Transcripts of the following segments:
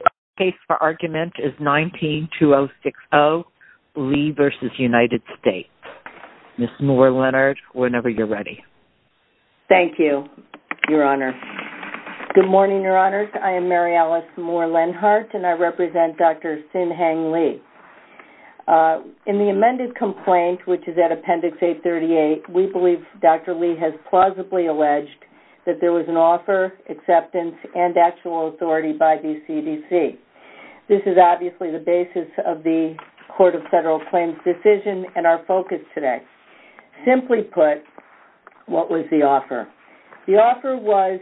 The case for argument is 19-2060, Lee v. United States. Ms. Moore-Lennart, whenever you're ready. Thank you, Your Honor. Good morning, Your Honors. I am Mary Alice Moore-Lennart, and I represent Dr. Sin Hang Lee. In the amended complaint, which is at Appendix A38, we believe Dr. Lee has plausibly alleged that there was an offer, acceptance, and actual authority by the CDC. This is obviously the basis of the Court of Federal Claims decision and our focus today. Simply put, what was the offer? The offer was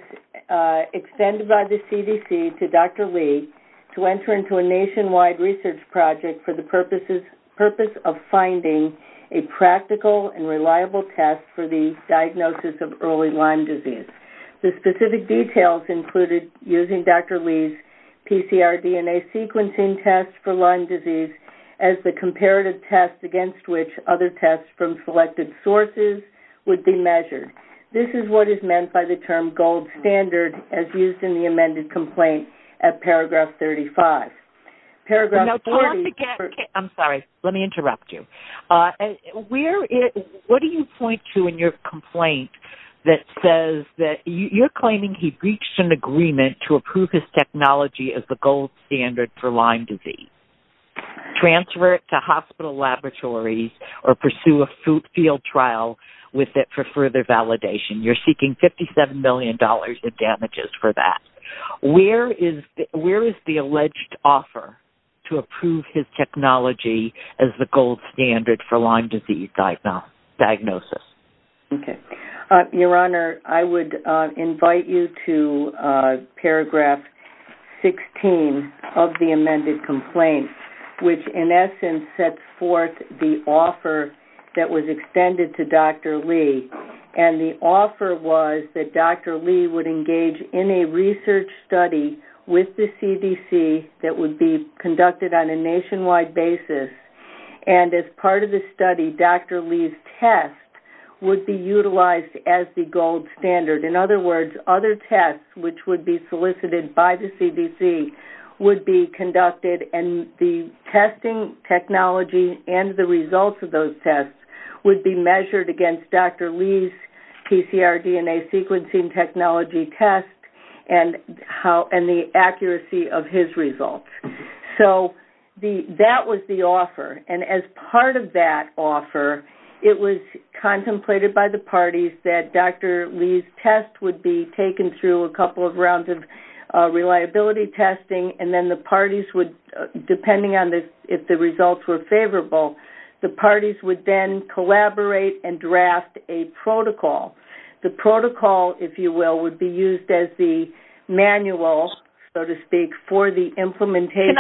extended by the CDC to Dr. Lee to enter into a nationwide research project for the purpose of finding a practical and reliable test for the diagnosis of early Lyme disease. The specific details included using Dr. Lee's PCR DNA sequencing test for Lyme disease as the comparative test against which other tests from selected sources would be measured. This is what is meant by the term gold standard as used in the amended complaint at Paragraph 35. I'm sorry. Let me interrupt you. What do you point to in your complaint that says that you're claiming he breached an agreement to approve his technology as the gold standard for Lyme disease, transfer it to hospital laboratories, or pursue a field trial with it for further validation? You're seeking $57 million in damages for that. Where is the alleged offer to approve his technology as the gold standard for Lyme disease diagnosis? Your Honor, I would invite you to Paragraph 16 of the amended complaint, which in essence sets forth the offer that was extended to Dr. Lee. The offer was that Dr. Lee would engage in a research study with the CDC that would be conducted on a nationwide basis. As part of the study, Dr. Lee's test would be utilized as the gold standard. In other words, other tests which would be solicited by the CDC would be conducted. The testing technology and the results of those tests would be measured against Dr. Lee's PCR DNA sequencing technology test and the accuracy of his results. That was the offer. As part of that offer, it was contemplated by the parties that Dr. Lee's test would be taken through a couple of rounds of reliability testing. Depending on if the results were favorable, the parties would then collaborate and draft a protocol. The protocol, if you will, would be used as the manual, so to speak, for the implementation.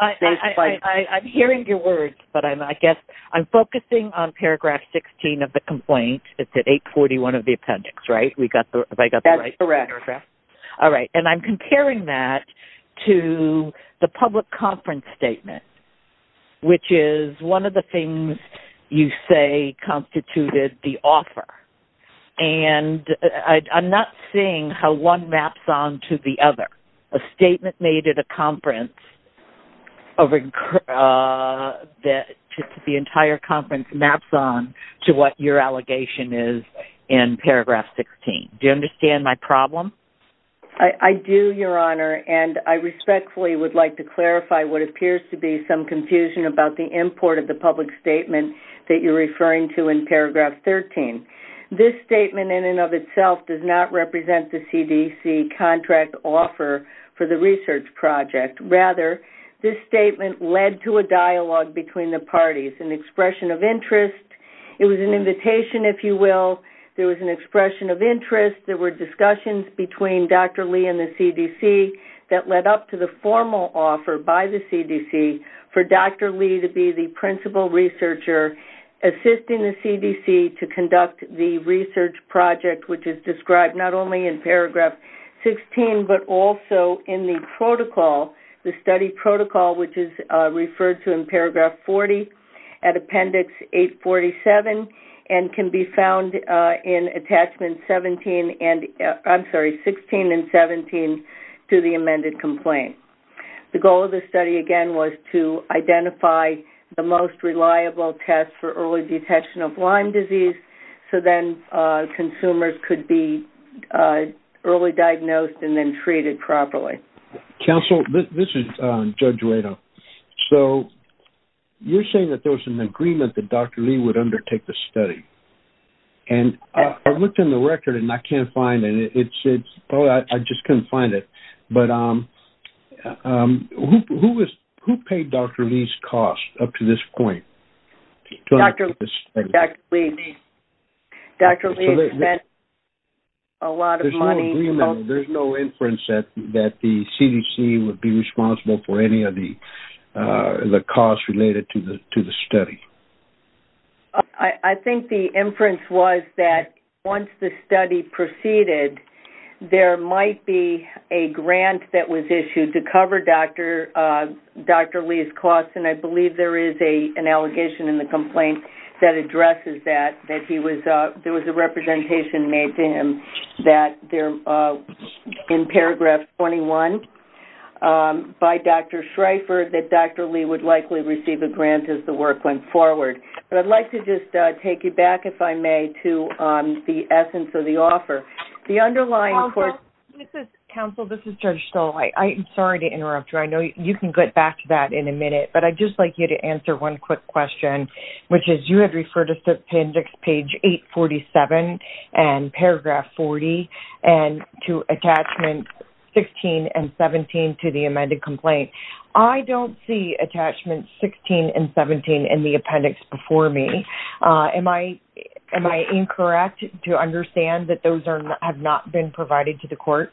I'm hearing your words, but I guess I'm focusing on Paragraph 16 of the complaint. It's at 841 of the appendix, right? That's correct. I'm comparing that to the public conference statement, which is one of the things you say constituted the offer. I'm not seeing how one maps on to the other. A statement made at a conference that the entire conference maps on to what your allegation is in Paragraph 16. Do you understand my problem? I do, Your Honor, and I respectfully would like to clarify what appears to be some confusion about the import of the public statement that you're referring to in Paragraph 13. This statement in and of itself does not represent the CDC contract offer for the research project. Rather, this statement led to a dialogue between the parties, an expression of interest. It was an invitation, if you will. There was an expression of interest. There were discussions between Dr. Lee and the CDC that led up to the formal offer by the CDC for Dr. Lee to be the principal researcher assisting the CDC to conduct the research project, which is described not only in Paragraph 16 but also in the protocol, the study protocol, which is referred to in Paragraph 40 at Appendix 847 and can be found in Attachments 16 and 17 to the amended complaint. The goal of the study, again, was to identify the most reliable test for early detection of Lyme disease so then consumers could be early diagnosed and then treated properly. Counsel, this is Judge Redo. So you're saying that there was an agreement that Dr. Lee would undertake the study. And I looked in the record and I can't find it. I just couldn't find it. But who paid Dr. Lee's cost up to this point? Dr. Lee spent a lot of money. There's no agreement. There's no inference that the CDC would be responsible for any of the costs related to the study. I think the inference was that once the study proceeded, there might be a grant that was issued to cover Dr. Lee's costs, and I believe there is an allegation in the complaint that addresses that, that there was a representation made to him that in Paragraph 21 by Dr. Schreifer that Dr. Lee would likely receive a grant as the work went forward. But I'd like to just take you back, if I may, to the essence of the offer. Counsel, this is Judge Stoll. I'm sorry to interrupt you. I know you can get back to that in a minute. But I'd just like you to answer one quick question, which is you had referred us to appendix page 847 and Paragraph 40 and to attachments 16 and 17 to the amended complaint. I don't see attachments 16 and 17 in the appendix before me. Am I incorrect to understand that those have not been provided to the court?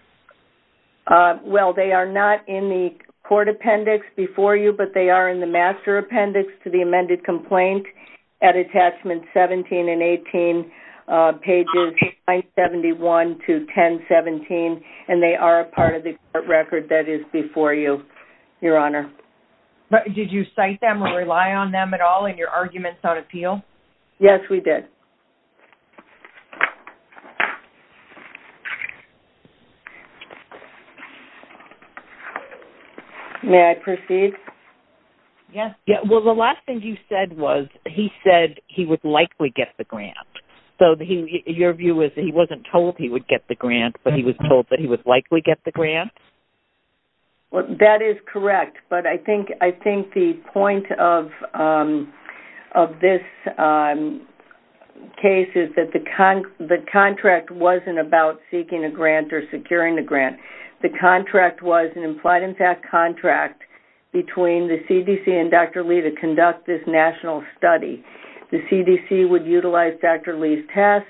Well, they are not in the court appendix before you, but they are in the master appendix to the amended complaint at attachments 17 and 18 pages 971 to 1017, and they are a part of the court record that is before you, Your Honor. Did you cite them or rely on them at all in your arguments on appeal? Yes, we did. May I proceed? Yes. Well, the last thing you said was he said he would likely get the grant. So your view is that he wasn't told he would get the grant, but he was told that he would likely get the grant? That is correct. But I think the point of this case is that the contract wasn't about seeking a grant or securing the grant. The contract was an implied-in-fact contract between the CDC and Dr. Lee to conduct this national study. The CDC would utilize Dr. Lee's test.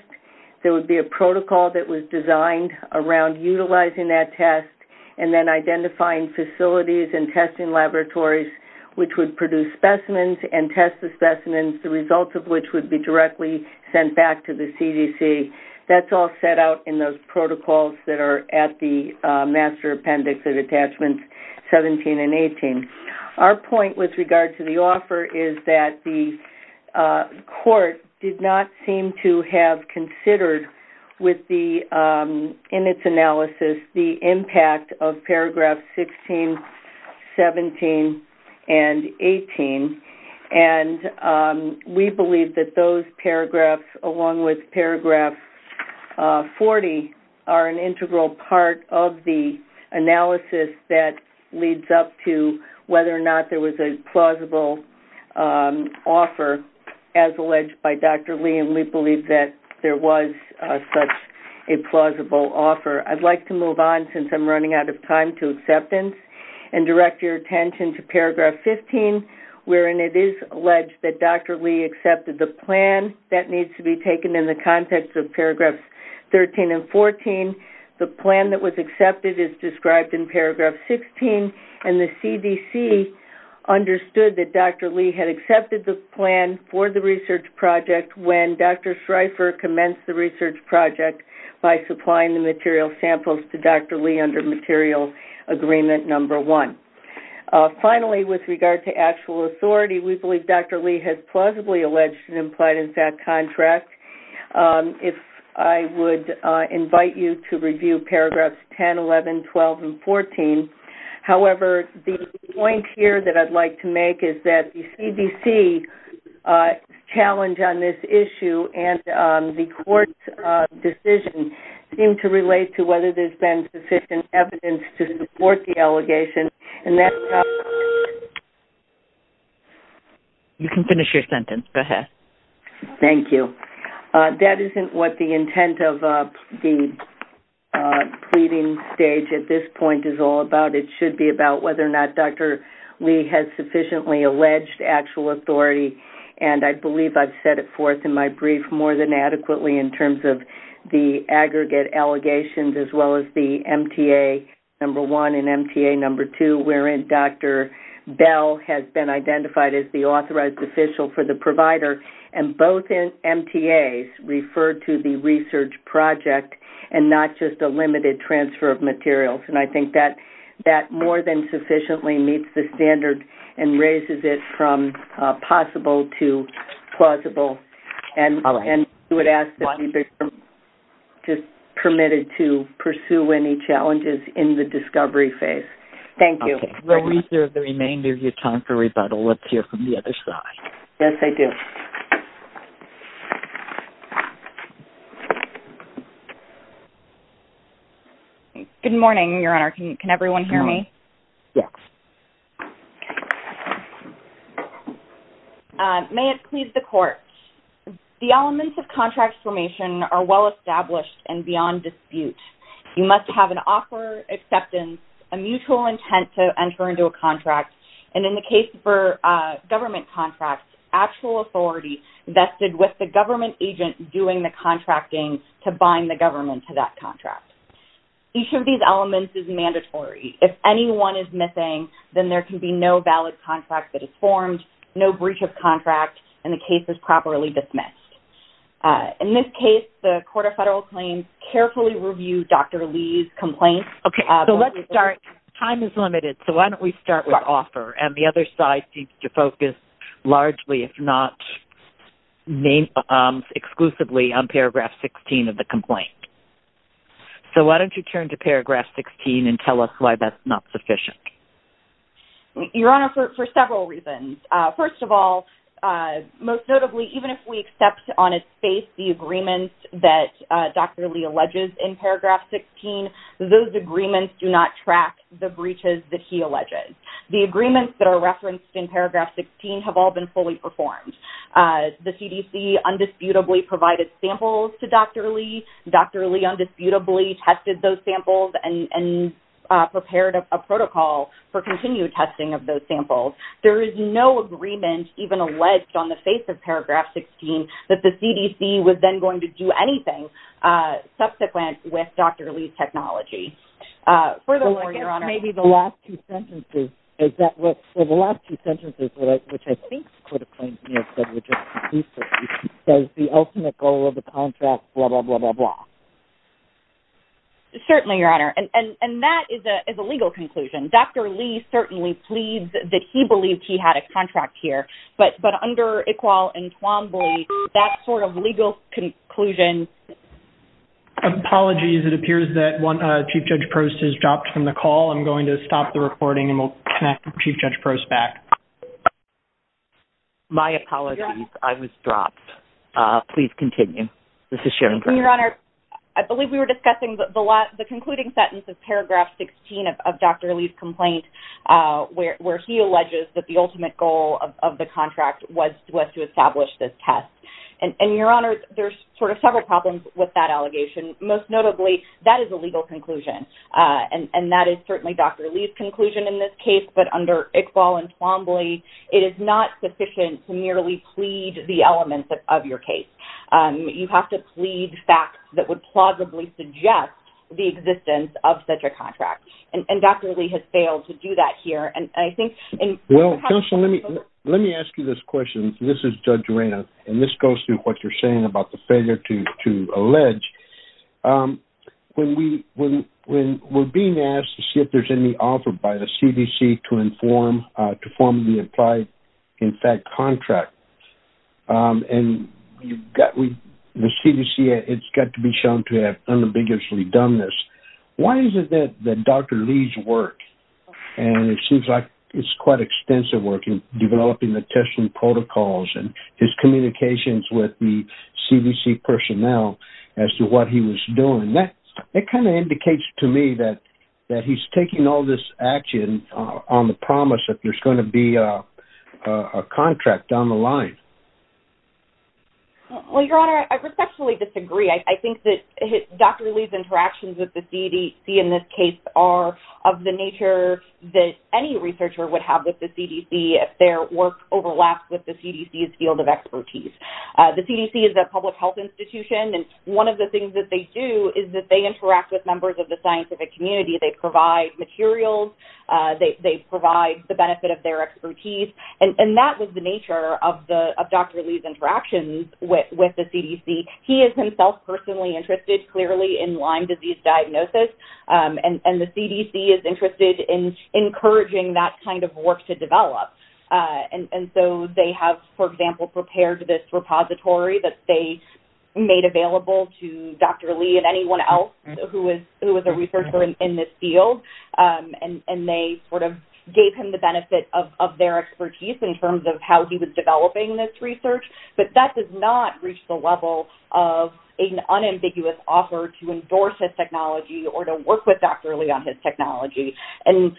There would be a protocol that was designed around utilizing that test and then identifying facilities and testing laboratories which would produce specimens and test the specimens, the results of which would be directly sent back to the CDC. That's all set out in those protocols that are at the master appendix of attachments 17 and 18. Our point with regard to the offer is that the court did not seem to have considered in its analysis the impact of paragraphs 16, 17, and 18. We believe that those paragraphs, along with paragraph 40, are an integral part of the analysis that leads up to whether or not there was a plausible offer as alleged by Dr. Lee, and we believe that there was such a plausible offer. I'd like to move on, since I'm running out of time, to acceptance and direct your attention to paragraph 15, wherein it is alleged that Dr. Lee accepted the plan. That needs to be taken in the context of paragraphs 13 and 14. The plan that was accepted is described in paragraph 16, and the CDC understood that Dr. Lee had accepted the plan for the research project when Dr. Schreifer commenced the research project by supplying the material samples to Dr. Lee under material agreement number one. Finally, with regard to actual authority, we believe Dr. Lee has plausibly alleged an implied-in-fact contract. I would invite you to review paragraphs 10, 11, 12, and 14. However, the point here that I'd like to make is that the CDC's challenge on this issue and the court's decision seem to relate to whether there's been sufficient evidence to support the allegation, and that's not- You can finish your sentence. Go ahead. Thank you. That isn't what the intent of the pleading stage at this point is all about. It should be about whether or not Dr. Lee has sufficiently alleged actual authority, and I believe I've said it forth in my brief more than adequately in terms of the aggregate allegations as well as the MTA number one and MTA number two, wherein Dr. Bell has been identified as the authorized official for the provider, and both MTAs refer to the research project and not just a limited transfer of materials. I think that more than sufficiently meets the standard and raises it from possible to plausible, and I would ask that you be permitted to pursue any challenges in the discovery phase. Thank you. While we serve the remainder of your time for rebuttal, let's hear from the other side. Yes, I do. Good morning, Your Honor. Can everyone hear me? Yes. May it please the Court. The elements of contract formation are well established and beyond dispute. You must have an offer, acceptance, a mutual intent to enter into a contract, and in the case for government contracts, actual authority vested with the government agent doing the contracting to bind the government to that contract. Each of these elements is mandatory. If anyone is missing, then there can be no valid contract that is formed, no breach of contract, and the case is properly dismissed. In this case, the Court of Federal Claims carefully reviewed Dr. Lee's complaint. Okay, so let's start. Time is limited, so why don't we start with offer, and the other side seems to focus largely, if not exclusively, on paragraph 16 of the complaint. So why don't you turn to paragraph 16 and tell us why that's not sufficient? Your Honor, for several reasons. First of all, most notably, even if we accept on its face the agreements that Dr. Lee alleges in paragraph 16, those agreements do not track the breaches that he alleges. The agreements that are referenced in paragraph 16 have all been fully performed. The CDC undisputably provided samples to Dr. Lee. Dr. Lee undisputably tested those samples and prepared a protocol for continued testing of those samples. There is no agreement even alleged on the face of paragraph 16 that the CDC was then going to do anything subsequent with Dr. Lee's technology. Furthermore, Your Honor. Maybe the last two sentences. So the last two sentences, which I think the Court of Claims may have said was the ultimate goal of the contract, blah, blah, blah, blah, blah. Certainly, Your Honor. And that is a legal conclusion. Dr. Lee certainly pleads that he believed he had a contract here. But under Iqbal and Twombly, that sort of legal conclusion. Apologies. It appears that Chief Judge Prost has dropped from the call. I'm going to stop the recording and we'll connect Chief Judge Prost back. My apologies. I was dropped. Please continue. This is Sharon. Your Honor. I believe we were discussing the concluding sentence of paragraph 16 of Dr. Lee's complaint where he alleges that the ultimate goal of the contract was to establish this test. And, Your Honor, there's sort of several problems with that allegation. Most notably, that is a legal conclusion. And that is certainly Dr. Lee's conclusion in this case. But under Iqbal and Twombly, it is not sufficient to merely plead the elements of your case. You have to plead facts that would plausibly suggest the existence of such a contract. And Dr. Lee has failed to do that here. Well, counsel, let me ask you this question. This is Judge Reyna. And this goes to what you're saying about the failure to allege. When we're being asked to see if there's any offer by the CDC to inform the implied, in fact, contract, and the CDC has got to be shown to have unambiguously done this, why is it that Dr. Lee's work, and it seems like it's quite extensive work in developing the testing protocols and his communications with the CDC personnel as to what he was doing, that kind of indicates to me that he's taking all this action on the promise that there's going to be a contract on the line. Well, Your Honor, I respectfully disagree. I think that Dr. Lee's interactions with the CDC in this case are of the nature that any researcher would have with the CDC if their work overlaps with the CDC's field of expertise. The CDC is a public health institution, and one of the things that they do is that they interact with members of the scientific community. They provide materials. They provide the benefit of their expertise. And that was the nature of Dr. Lee's interactions with the CDC. He is himself personally interested clearly in Lyme disease diagnosis, and the CDC is interested in encouraging that kind of work to develop. And so they have, for example, prepared this repository that they made available to Dr. Lee and anyone else who was a researcher in this field, and they sort of gave him the benefit of their expertise in terms of how he was developing this research. But that does not reach the level of an unambiguous offer to endorse his technology or to work with Dr. Lee on his technology. And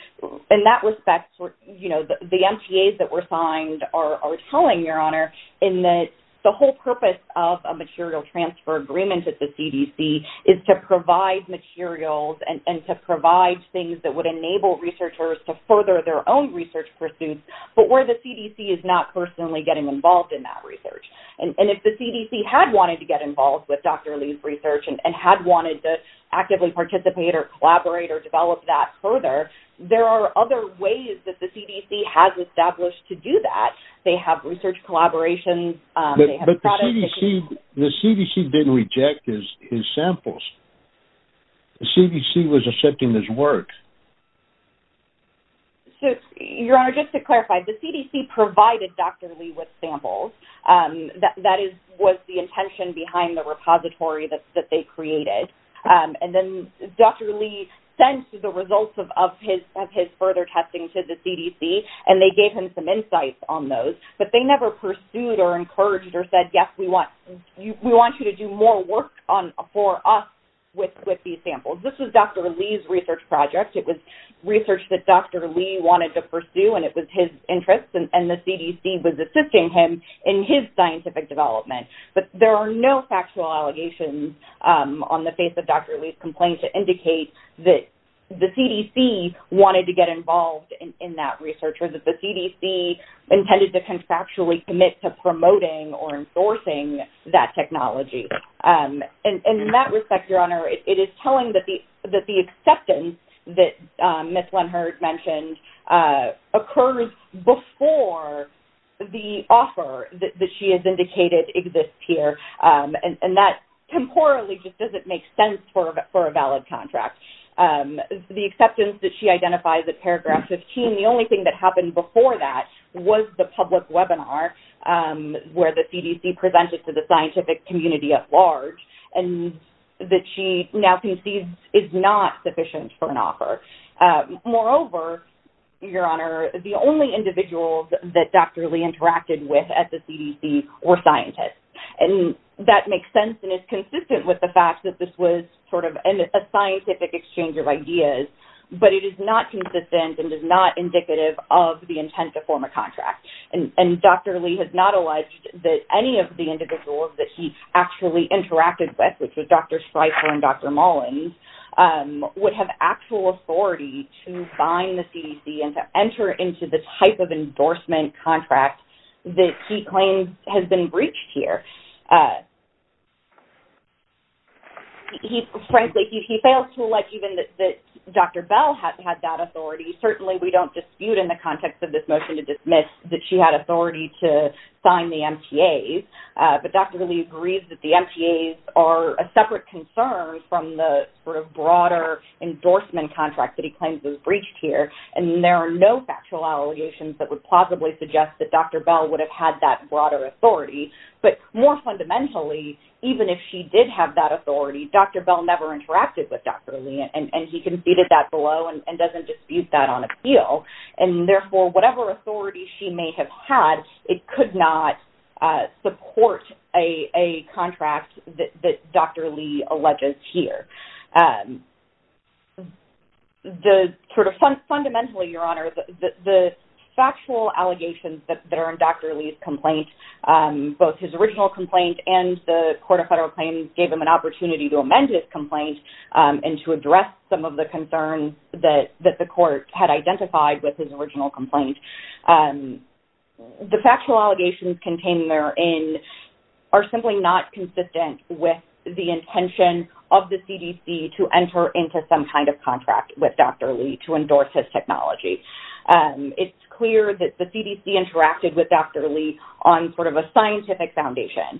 in that respect, you know, the MTAs that were signed are telling, Your Honor, in that the whole purpose of a material transfer agreement at the CDC is to provide materials and to provide things that would enable researchers to further their own research pursuits, but where the CDC is not personally getting involved in that research. And if the CDC had wanted to get involved with Dr. Lee's research and had wanted to actively participate or collaborate or develop that further, there are other ways that the CDC has established to do that. They have research collaborations. But the CDC didn't reject his samples. The CDC was accepting his work. So, Your Honor, just to clarify, the CDC provided Dr. Lee with samples. That was the intention behind the repository that they created. And then Dr. Lee sent the results of his further testing to the CDC, and they gave him some insights on those. But they never pursued or encouraged or said, yes, we want you to do more work for us with these samples. This was Dr. Lee's research project. It was research that Dr. Lee wanted to pursue, and it was his interest, and the CDC was assisting him in his scientific development. But there are no factual allegations on the face of Dr. Lee's complaint to indicate that the CDC wanted to get involved in that research or that the CDC intended to contractually commit to promoting or enforcing that technology. And in that respect, Your Honor, it is telling that the acceptance that Ms. Lenhard mentioned occurs before the offer that she has indicated exists here. And that temporally just doesn't make sense for a valid contract. The acceptance that she identifies at paragraph 15, the only thing that happened before that was the public webinar where the CDC presented to the scientific community at large and that she now concedes is not sufficient for an offer. Moreover, Your Honor, the only individuals that Dr. Lee interacted with at the CDC were scientists. And that makes sense and is consistent with the fact that this was sort of a scientific exchange of ideas, but it is not consistent and is not indicative of the intent to form a contract. And Dr. Lee has not alleged that any of the individuals that he actually interacted with, which was Dr. Streicher and Dr. Mullins, would have actual authority to find the CDC and to enter into the type of endorsement contract that he claims has been breached here. Frankly, he fails to elect even that Dr. Bell had that authority. Certainly, we don't dispute in the context of this motion to dismiss that she had authority to sign the MTAs. But Dr. Lee agrees that the MTAs are a separate concern from the sort of broader endorsement contract that he claims was breached here. And there are no factual allegations that would plausibly suggest that Dr. Bell would have had that broader authority. But more fundamentally, even if she did have that authority, Dr. Bell never interacted with Dr. Lee. And he conceded that below and doesn't dispute that on appeal. And therefore, whatever authority she may have had, it could not support a contract that Dr. Lee alleges here. Fundamentally, Your Honor, the factual allegations that are in Dr. Lee's complaint, both his original complaint and the Court of Federal Claims gave him an opportunity to amend his complaint and to address some of the concerns that the court had identified with his original complaint. The factual allegations contained therein are simply not consistent with the intention of the CDC to enter into some kind of contract with Dr. Lee to endorse his technology. It's clear that the CDC interacted with Dr. Lee on sort of a scientific foundation.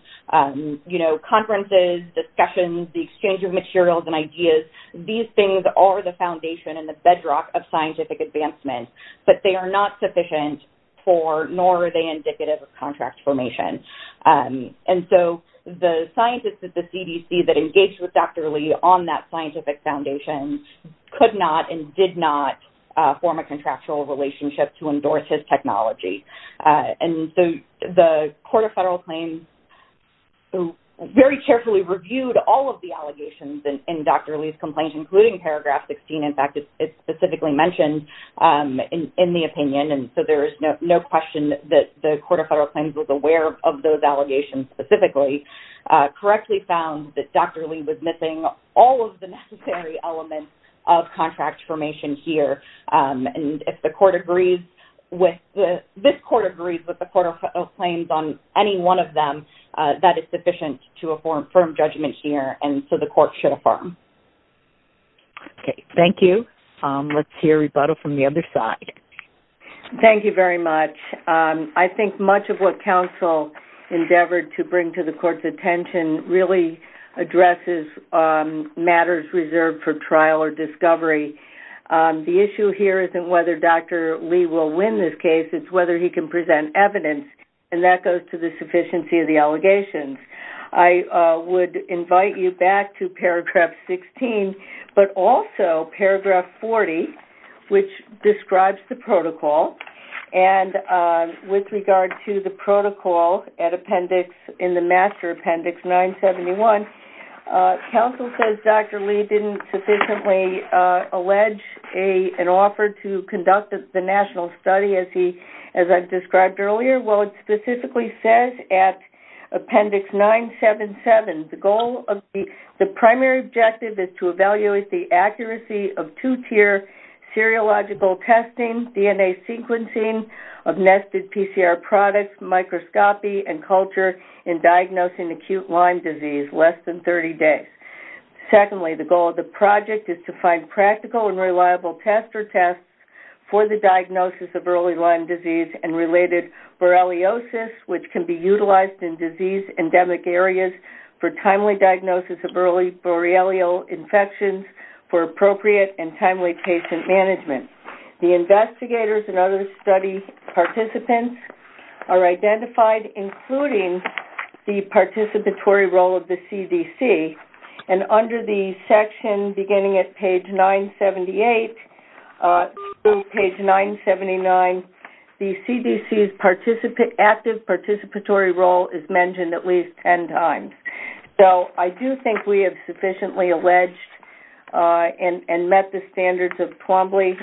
Conferences, discussions, the exchange of materials and ideas, these things are the foundation and the bedrock of scientific advancement. But they are not sufficient for nor are they indicative of contract formation. And so the scientists at the CDC that engaged with Dr. Lee on that scientific foundation could not and did not form a contractual relationship to endorse his technology. And so the Court of Federal Claims very carefully reviewed all of the allegations in Dr. Lee's complaint, including paragraph 16. In fact, it's specifically mentioned in the opinion. And so there is no question that the Court of Federal Claims was aware of those allegations specifically. Correctly found that Dr. Lee was missing all of the necessary elements of contract formation here. And if this Court agrees with the Court of Federal Claims on any one of them, that is sufficient to affirm firm judgment here. And so the Court should affirm. Okay. Thank you. Let's hear Rebuttal from the other side. Thank you very much. I think much of what counsel endeavored to bring to the Court's attention really addresses matters reserved for trial or discovery. The issue here isn't whether Dr. Lee will win this case. It's whether he can present evidence. And that goes to the sufficiency of the allegations. I would invite you back to paragraph 16, but also paragraph 40, which describes the protocol. And with regard to the protocol in the Master Appendix 971, counsel says Dr. Lee didn't sufficiently allege an offer to conduct the national study as I've described earlier. Well, it specifically says at Appendix 977, the goal of the primary objective is to evaluate the accuracy of two-tier seriological testing, DNA sequencing of nested PCR products, microscopy, and culture in diagnosing acute Lyme disease less than 30 days. Secondly, the goal of the project is to find practical and reliable tester tests for the diagnosis of early Lyme disease and related Borreliosis, which can be utilized in disease endemic areas for timely diagnosis of early Borrelial infections for appropriate and timely patient management. The investigators and other study participants are identified, including the participatory role of the CDC. And under the section beginning at page 978 through page 979, the CDC's active participatory role is mentioned at least 10 times. So I do think we have sufficiently alleged and met the standards of Twombly,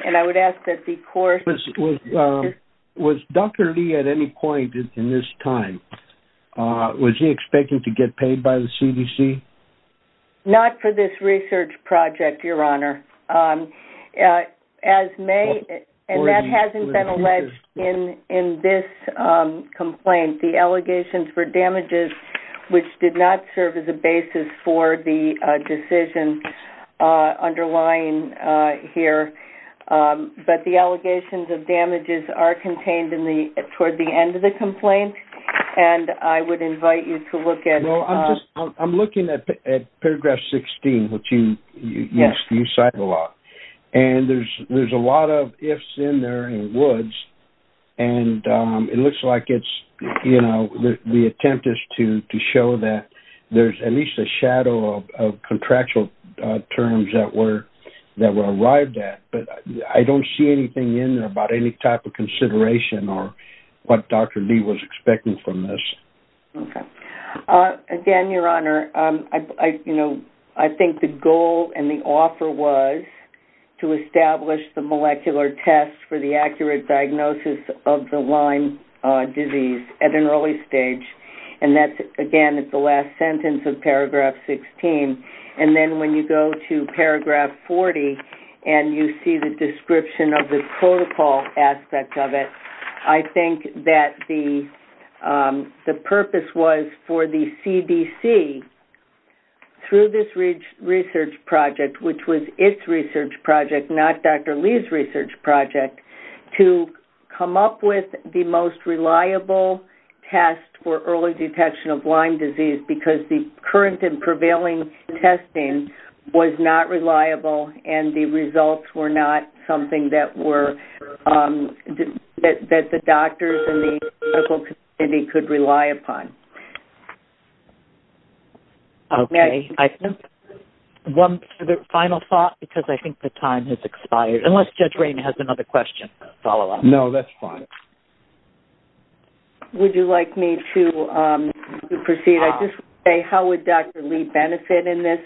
Was Dr. Lee at any point in this time, was he expecting to get paid by the CDC? Not for this research project, Your Honor. As may, and that hasn't been alleged in this complaint. The allegations were damages which did not serve as a basis for the decision underlying here. But the allegations of damages are contained toward the end of the complaint, and I would invite you to look at it. I'm looking at paragraph 16, which you cited a lot. And there's a lot of ifs in there and woulds, and it looks like it's, you know, the attempt is to show that there's at least a shadow of contractual terms that were arrived at. But I don't see anything in there about any type of consideration or what Dr. Lee was expecting from this. Okay. Again, Your Honor, you know, I think the goal and the offer was to establish the molecular test for the accurate diagnosis of the Lyme disease at an early stage. And that's, again, at the last sentence of paragraph 16. And then when you go to paragraph 40 and you see the description of the protocol aspect of it, I think that the purpose was for the CDC, through this research project, which was its research project, not Dr. Lee's research project, to come up with the most reliable test for early detection of Lyme disease because the current and prevailing testing was not reliable and the results were not something that the doctors and the medical community could rely upon. Okay. I think one final thought, because I think the time has expired, unless Judge Rainer has another question to follow up. No, that's fine. Would you like me to proceed? I just want to say, how would Dr. Lee benefit in this?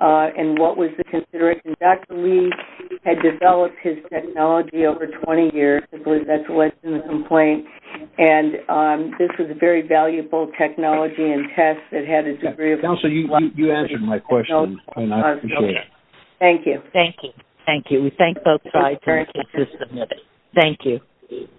And what was the consideration? Dr. Lee had developed his technology over 20 years. I believe that's alleged in the complaint. And this was a very valuable technology and test that had a degree of reliability. Counselor, you answered my question. I appreciate it. Thank you. Thank you. Thank you. We thank both sides. Thank you.